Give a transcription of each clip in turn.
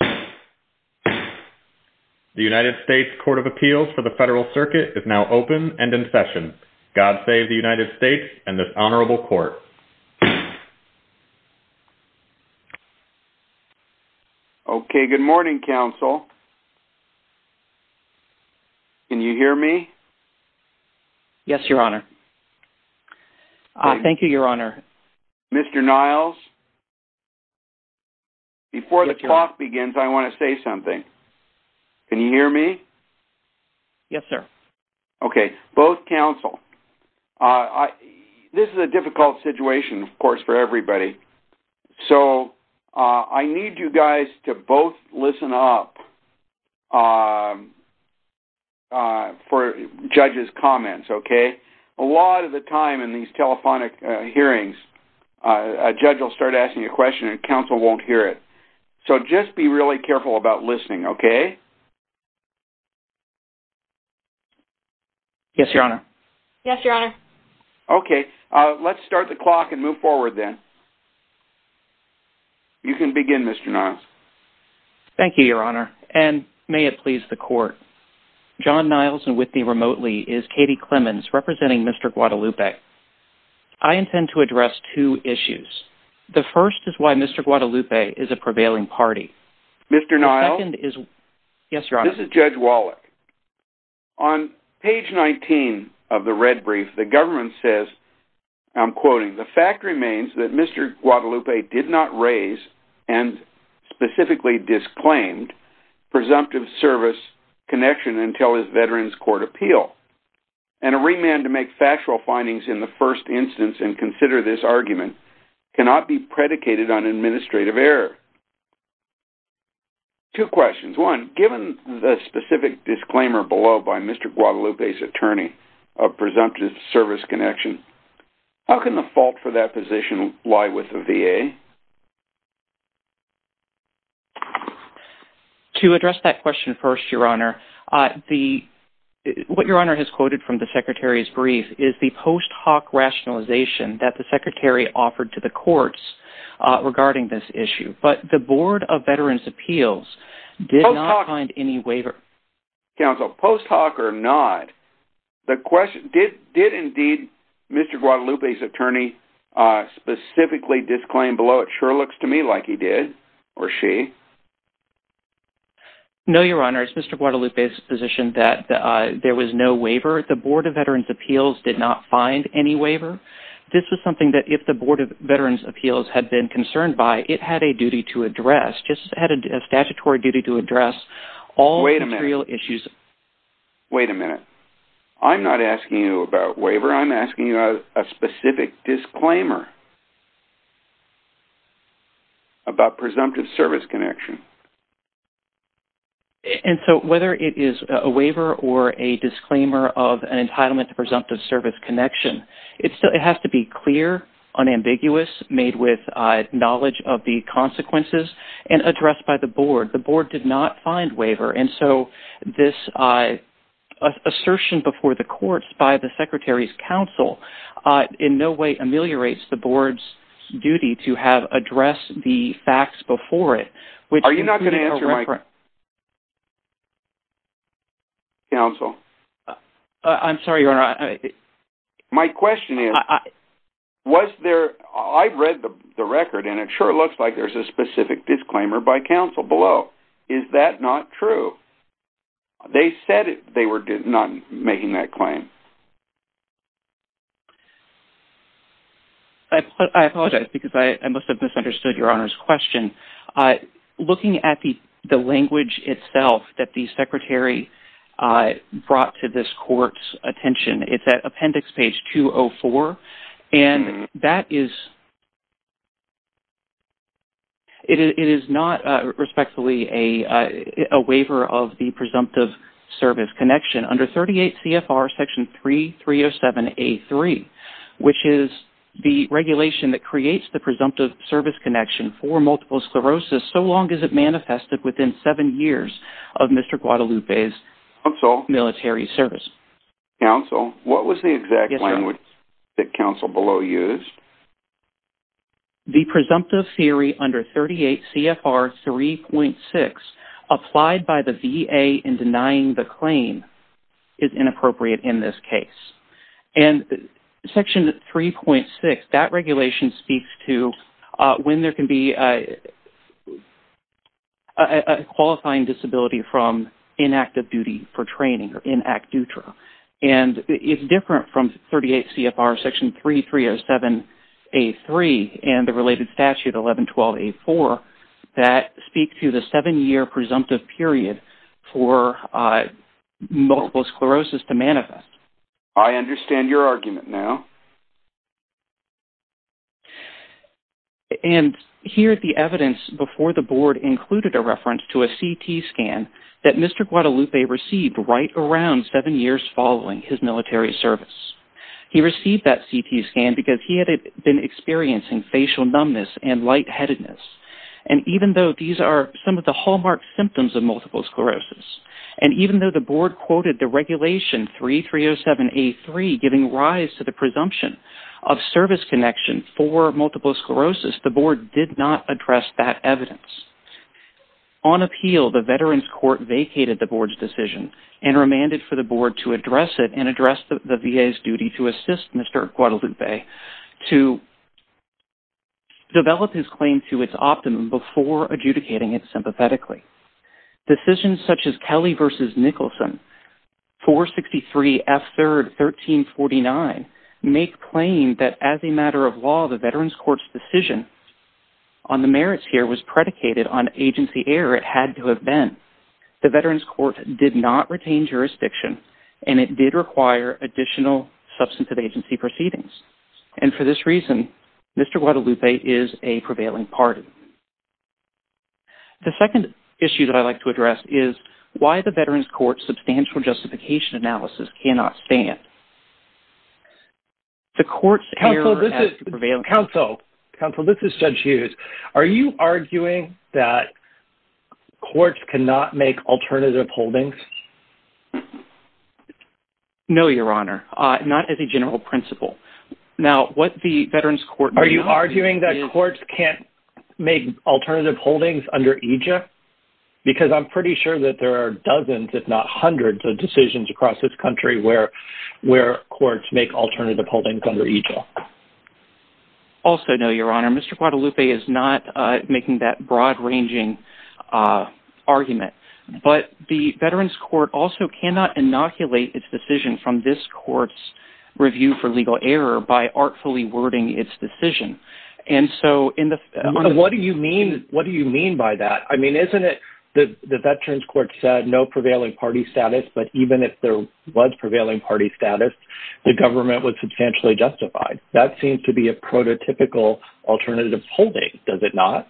The U.S. Court of Appeals for the Federal Circuit is now open and in session. God save the United States and this honorable court. Good morning, counsel. Can you hear me? Yes, your honor. Thank you, your honor. Mr. Niles, before the clock begins, I want to say something. Can you hear me? Yes, sir. Okay. Both counsel, this is a difficult situation, of course, for everybody. So I need you guys to both listen up for judges' comments, okay? A lot of the time in these telephonic hearings, a judge will start asking a question and counsel won't hear it. So just be really careful about listening, okay? Yes, your honor. Yes, your honor. Okay. Let's start the clock and move forward then. You can begin, Mr. Niles. Thank you, your honor, and may it please the court. John Niles and with me remotely is Katie Clemons representing Mr. Guadalupe. I intend to address two issues. The first is why Mr. Guadalupe is a prevailing party. Mr. Niles? Yes, your honor. This is Judge Wallach. On page 19 of the red brief, the government says, I'm quoting, the fact remains that Mr. Guadalupe did not raise and specifically disclaimed presumptive service connection until his veterans court appeal. And a remand to make factual findings in the first instance and consider this argument cannot be predicated on administrative error. Two questions. One, given the specific disclaimer below by Mr. Guadalupe's attorney of presumptive service connection, how can the fault for that position lie with the VA? To address that question first, your honor, what your honor has quoted from the secretary's brief is the post hoc rationalization that the secretary offered to the courts regarding this issue. But the Board of Veterans Appeals did not find any waiver counsel post hoc or not. The question did did indeed Mr. Guadalupe's attorney specifically disclaim below. It sure looks to me like he did or she. No, your honor, it's Mr. Guadalupe's position that there was no waiver. The Board of Veterans Appeals did not find any waiver. This is something that if the Board of Veterans Appeals had been concerned by, it had a duty to address just had a statutory duty to address all material issues. Wait a minute. I'm not asking you about waiver. I'm asking you a specific disclaimer about presumptive service connection. And so whether it is a waiver or a disclaimer of an entitlement to presumptive service connection, it still it has to be clear, unambiguous, made with knowledge of the consequences and addressed by the board. The board did not find waiver. And so this assertion before the courts by the secretary's counsel in no way ameliorates the board's duty to have addressed the facts before it. Are you not going to answer my question, counsel? I'm sorry, your honor. My question is, was there, I've read the record and it sure looks like there's a specific disclaimer by counsel below. Is that not true? They said they were not making that claim. I apologize because I must have misunderstood your honor's question. Looking at the language itself that the secretary brought to this court's attention, it's at appendix page 204. And that is, it is not respectfully a waiver of the presumptive service connection under 38 CFR section 3307A3, which is the regulation that creates the presumptive service connection for multiple sclerosis so long as it manifested within seven years of Mr. Guadalupe's military service. Counsel, what was the exact language that counsel below used? The presumptive theory under 38 CFR 3.6 applied by the VA in denying the claim is inappropriate in this case. And section 3.6, that regulation speaks to when there can be a qualifying disability from inactive duty for training or in act dutra. And it's different from 38 CFR section 3307A3 and the related statute 1112A4 that speak to the seven year presumptive period for multiple sclerosis to manifest. I understand your argument now. And here at the evidence before the board included a reference to a CT scan that Mr. Guadalupe received right around seven years following his military service. He received that CT scan because he had been experiencing facial numbness and lightheadedness. And even though these are some of the hallmark symptoms of multiple sclerosis, and even though the board quoted the regulation 3307A3 giving rise to the presumption of service connection for multiple sclerosis, the board did not address that evidence. On appeal, the Veterans Court vacated the board's decision and remanded for the board to address it and address the VA's duty to assist Mr. Guadalupe to develop his claim to its optimum before adjudicating it sympathetically. Decisions such as Kelly v. Nicholson 463F3 1349 make claim that as a matter of law, the Veterans Court's decision on the merits here was predicated on agency error. It had to have been. The Veterans Court did not retain jurisdiction and it did require additional substantive agency proceedings. And for this reason, Mr. Guadalupe is a prevailing party. The second issue that I'd like to address is why the Veterans Court's substantial justification analysis cannot stand. The court's error has prevailed. Counsel, this is Judge Hughes. Are you arguing that courts cannot make alternative holdings? No, Your Honor. Not as a general principle. Now, what the Veterans Court... Are you arguing that courts can't make alternative holdings under AJA? Because I'm pretty sure that there are dozens, if not hundreds, of decisions across this country where courts make alternative holdings under AJA. Also, no, Your Honor. Mr. Guadalupe is not making that broad-ranging argument. But the Veterans Court also cannot inoculate its decision from this court's review for legal error by artfully wording its decision. And so... What do you mean by that? I mean, isn't it that the Veterans Court said no prevailing party status, but even if there was prevailing party status, the government was substantially justified? That seems to be a prototypical alternative holding, does it not?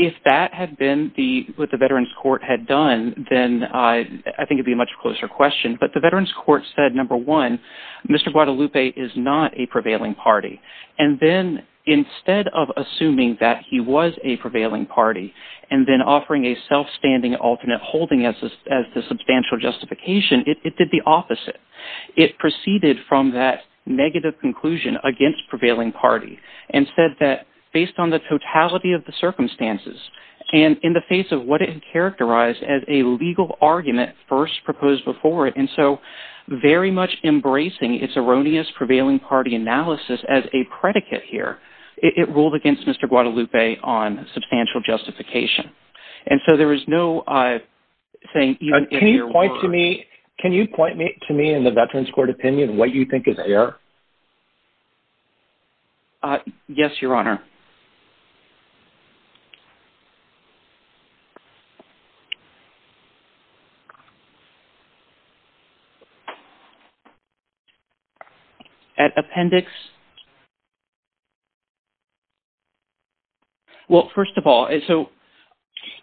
If that had been what the Veterans Court had done, then I think it'd be a much closer question. But the Veterans Court said, number one, Mr. Guadalupe is not a prevailing party. And then instead of assuming that he was a prevailing party and then offering a self-standing alternate holding as the substantial justification, it did the opposite. It proceeded from that negative conclusion against prevailing party and said that based on the totality of the circumstances and in the face of what it characterized as a legal argument first proposed before it, and so very much embracing its erroneous prevailing party analysis as a predicate here, it ruled against Mr. Guadalupe on substantial justification. And so there is no saying... Can you point to me in the Veterans Court opinion what you think is error? Yes, Your Honor. At appendix... Well, first of all, so...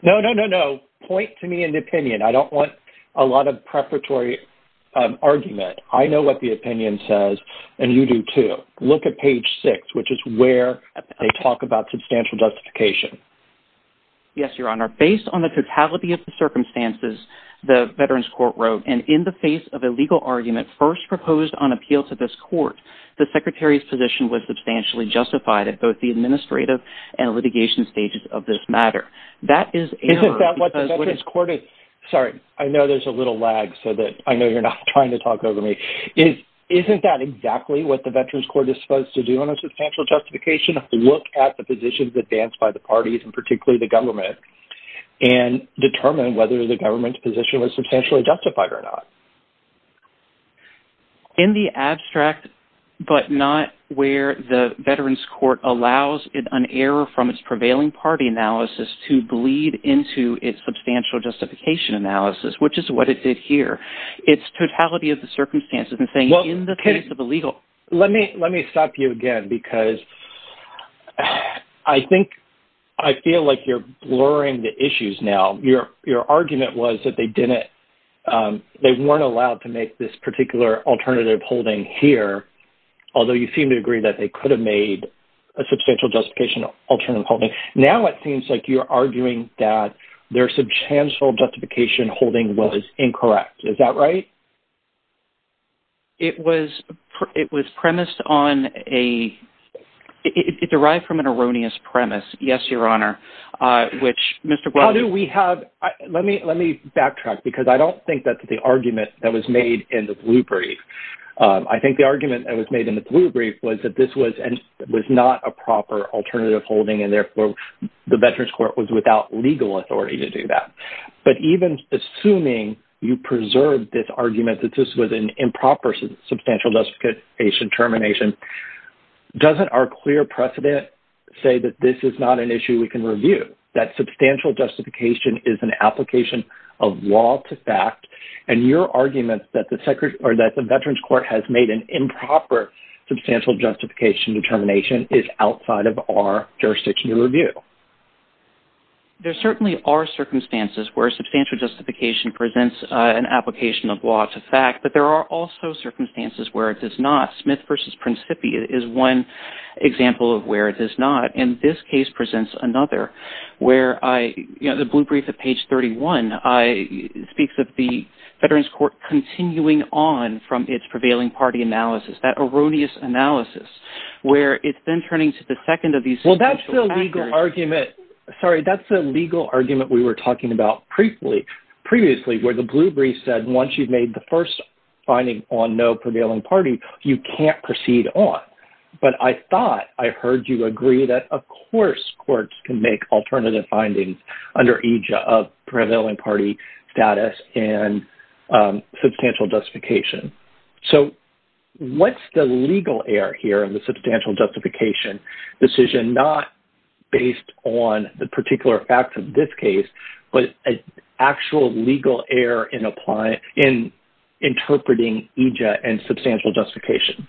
No, no, no, no. Point to me an opinion. I don't want a lot of preparatory argument. I know what the opinion says and you do too. Look at page six, which is where they talk about substantial justification. Yes, Your Honor. Based on the totality of the circumstances, the Veterans Argument first proposed on appeal to this court, the Secretary's position was substantially justified at both the administrative and litigation stages of this matter. That is error... Isn't that what the Veterans Court is... Sorry, I know there's a little lag so that I know you're not trying to talk over me. Isn't that exactly what the Veterans Court is supposed to do on a substantial justification? Look at the positions advanced by the parties and particularly the government and determine whether the government's position was substantially justified or not. In the abstract, but not where the Veterans Court allows an error from its prevailing party analysis to bleed into its substantial justification analysis, which is what it did here, its totality of the circumstances and saying in the case of a legal... Let me stop you again because I think I feel like you're blurring the issues now. Your argument was that they weren't allowed to make this particular alternative holding here, although you seem to agree that they could have made a substantial justification alternative holding. Now, it seems like you're arguing that their substantial justification holding was incorrect. Is that right? It was premised on a... It derived from an erroneous premise. Yes, Your Honor, which Mr. Because I don't think that's the argument that was made in the blue brief. I think the argument that was made in the blue brief was that this was not a proper alternative holding and therefore the Veterans Court was without legal authority to do that. But even assuming you preserve this argument that this was an improper substantial justification termination, doesn't our clear precedent say that this is not an issue we can review? That substantial justification is an law to fact and your argument that the Veterans Court has made an improper substantial justification determination is outside of our jurisdictional review? There certainly are circumstances where substantial justification presents an application of law to fact, but there are also circumstances where it does not. Smith versus Principi is one example of where it does not. And this case presents another where I... The blue brief at page 31 speaks of the Veterans Court continuing on from its prevailing party analysis. That erroneous analysis where it's been turning to the second of these... Well, that's the legal argument. Sorry, that's the legal argument we were talking about previously where the blue brief said once you've made the first finding on no prevailing party, you can't proceed on. But I thought I prevailing party status and substantial justification. So what's the legal error here in the substantial justification decision not based on the particular facts of this case, but an actual legal error in interpreting EJ and substantial justification?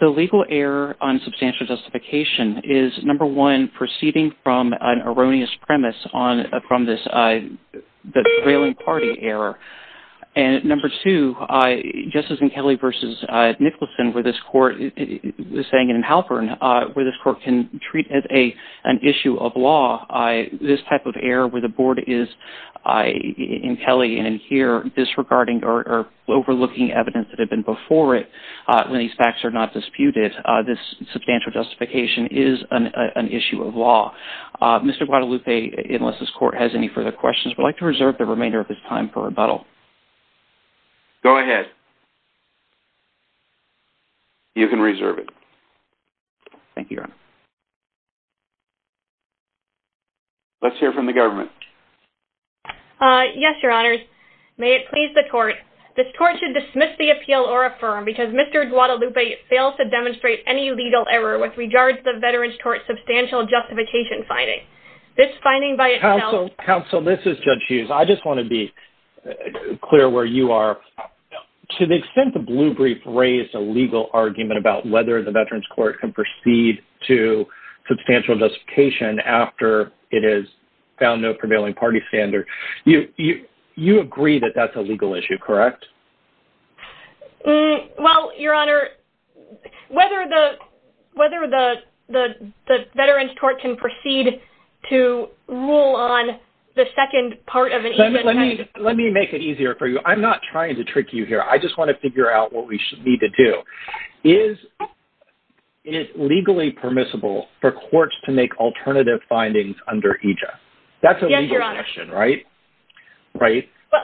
The legal error on substantial justification is number one, proceeding from an erroneous premise on from this prevailing party error. And number two, just as in Kelly versus Nicholson where this court is saying in Halpern where this court can treat as an issue of law, this type of error where the board is in Kelly and in here disregarding or overlooking evidence that had been before it when these facts are not disputed, this substantial justification is an issue of law. Mr. Guadalupe, unless this court has any further questions, we'd like to reserve the remainder of his time for rebuttal. Go ahead. You can reserve it. Thank you, Your Honor. Let's hear from the government. Yes, Your Honors. May it please the court, this court should dismiss the appeal or affirm because Mr. Guadalupe fails to demonstrate any legal error with regards to the Veterans Court substantial justification finding. This finding by itself- Counsel, this is Judge Hughes. I just want to be clear where you are. To the extent the blue brief raised a legal argument about whether the Veterans Court can proceed to substantial justification after it has found no prevailing party standard, you agree that that's a legal issue, correct? Well, Your Honor, whether the Veterans Court can proceed to rule on the second part of- Let me make it easier for you. I'm not trying to trick you here. I just want to figure out what we need to do. Is it legally permissible for courts to make alternative findings under EJA? That's a legal question, right?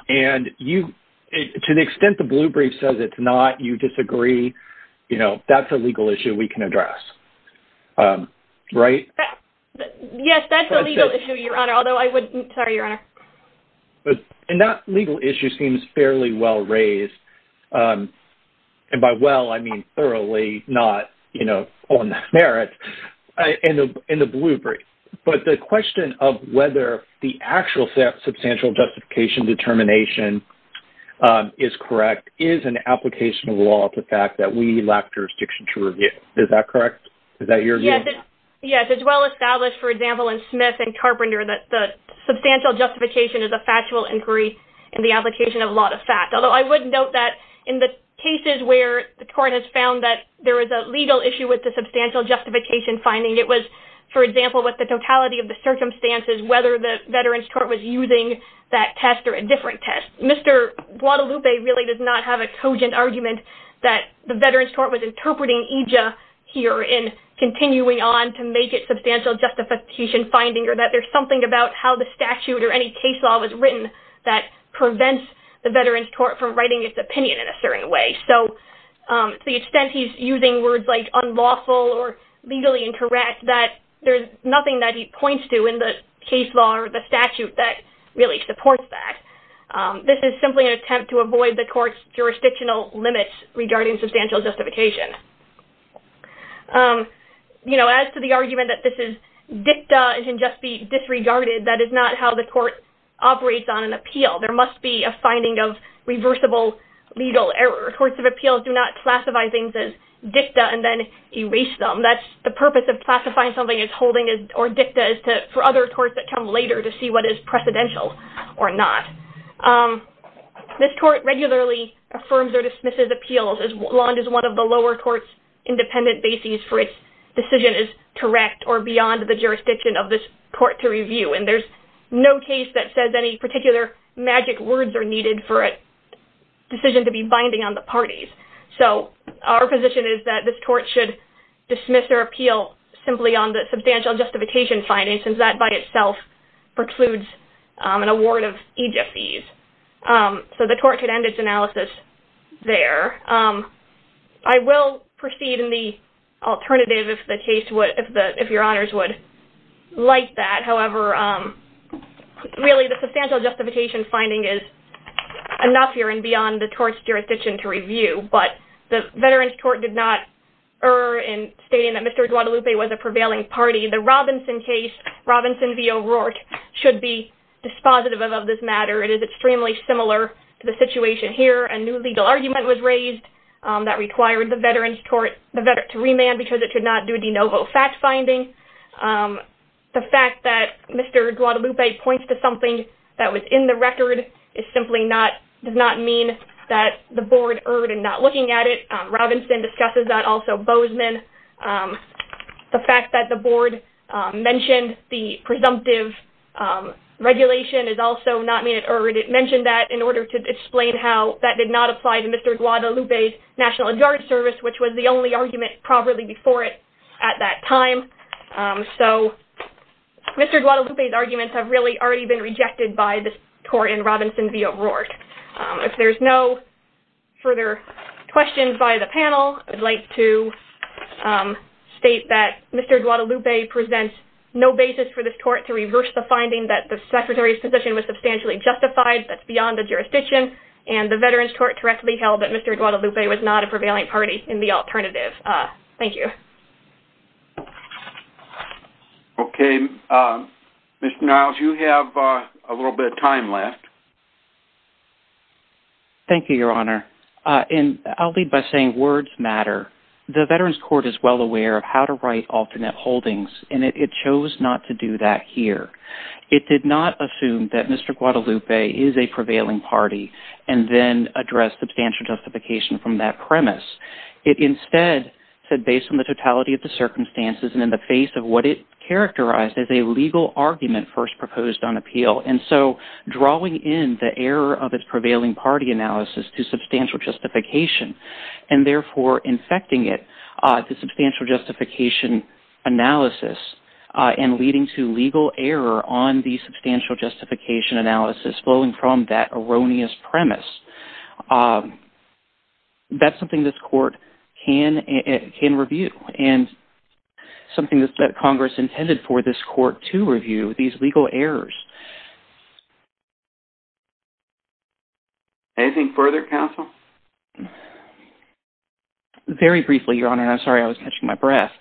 And to the extent the blue brief says it's not, you disagree, that's a legal issue we can address, right? Yes, that's a legal issue, Your Honor, although I wouldn't- Sorry, Your Honor. But that legal issue seems fairly well raised. And by well, I mean thoroughly, not, you know, on merit in the blue brief. But the question of whether the actual substantial justification determination is correct is an application of law to the fact that we lack jurisdiction to review. Is that correct? Is that your view? Yes, it's well established, for example, in Smith and Carpenter that the factual inquiry and the application of law to fact. Although I would note that in the cases where the court has found that there is a legal issue with the substantial justification finding, it was, for example, with the totality of the circumstances, whether the Veterans Court was using that test or a different test. Mr. Guadalupe really does not have a cogent argument that the Veterans Court was interpreting EJA here and continuing on to make it substantial justification finding or that there's something about how the statute or any case law was written that prevents the Veterans Court from writing its opinion in a certain way. So to the extent he's using words like unlawful or legally incorrect, that there's nothing that he points to in the case law or the statute that really supports that. This is simply an attempt to avoid the court's jurisdictional limits regarding substantial justification. You know, as to the argument that this is dicta and can just be disregarded, that is not how the court operates on an appeal. There must be a finding of reversible legal error. Courts of appeals do not classify things as dicta and then erase them. That's the purpose of classifying something as holding or dicta is for other courts that come later to see what is precedential or not. This court regularly affirms or dismisses appeals as long as one of the lower court's independent bases for its decision is correct or beyond the jurisdiction of this court to review. And there's no case that says any particular magic words are needed for a decision to be binding on the parties. So our position is that this court should dismiss their appeal simply on the substantial justification finding since that by itself precludes an award of EJA fees. So the court could end its analysis there. I will proceed in the alternative if the case would, if your honors would like that. However, really the substantial justification finding is enough here and beyond the court's jurisdiction to review. But the Veterans Court did not err in stating that Mr. Duadalupe was a prevailing party. The Robinson case, Robinson v. O'Rourke, should be dispositive of this matter. It is extremely similar to the situation here. A new legal argument was raised that required the Veterans Court to remand because it could not do de novo fact finding. The fact that Mr. Duadalupe points to something that was in the record is simply not, does not mean that the board erred in not looking at it. Robinson discusses that, also Bozeman. The fact that the board mentioned the order to explain how that did not apply to Mr. Duadalupe's National Guard Service, which was the only argument properly before it at that time. So Mr. Duadalupe's arguments have really already been rejected by this court in Robinson v. O'Rourke. If there's no further questions by the panel, I'd like to state that Mr. Duadalupe presents no basis for this court to reverse the finding that the Secretary's position was substantially justified. That's beyond the jurisdiction and the Veterans Court directly held that Mr. Duadalupe was not a prevailing party in the alternative. Thank you. Okay. Mr. Niles, you have a little bit of time left. Thank you, Your Honor. And I'll lead by saying words matter. The Veterans Court is well in the process of reviewing this case. It did not assume that Mr. Duadalupe is a prevailing party and then address substantial justification from that premise. It instead said based on the totality of the circumstances and in the face of what it characterized as a legal argument first proposed on appeal. And so drawing in the error of its prevailing party analysis to substantial justification and therefore infecting it to substantial justification analysis and leading to legal error on the substantial justification analysis flowing from that erroneous premise. That's something this court can review and something that Congress intended for this hearing. Very briefly, Your Honor, and I'm sorry I was catching my breath.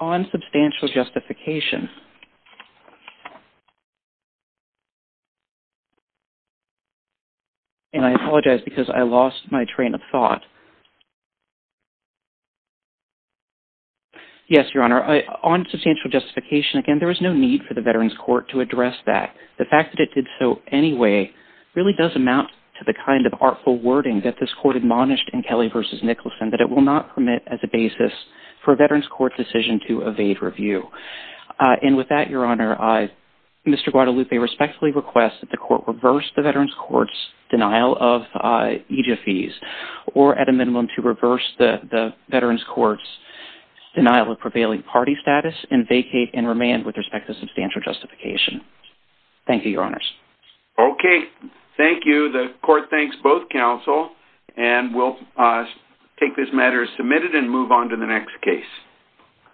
On substantial justification, and I apologize because I lost my train of thought. Yes, Your Honor. On substantial justification, again, there is no need for the Veterans Court to address that. The fact that it did so anyway really does amount to the kind of artful wording that this court admonished in Kelly v. Nicholson that it will not permit as a basis for a Veterans Court decision to evade review. And with that, Your Honor, Mr. Duadalupe respectfully requests that the court reverse the Veterans Court's denial of EJIA fees or at a later date to reverse the Veterans Court's denial of prevailing party status and vacate and remand with respect to substantial justification. Thank you, Your Honors. Okay. Thank you. The court thanks both counsel and will take this matter as submitted and move on to the next case.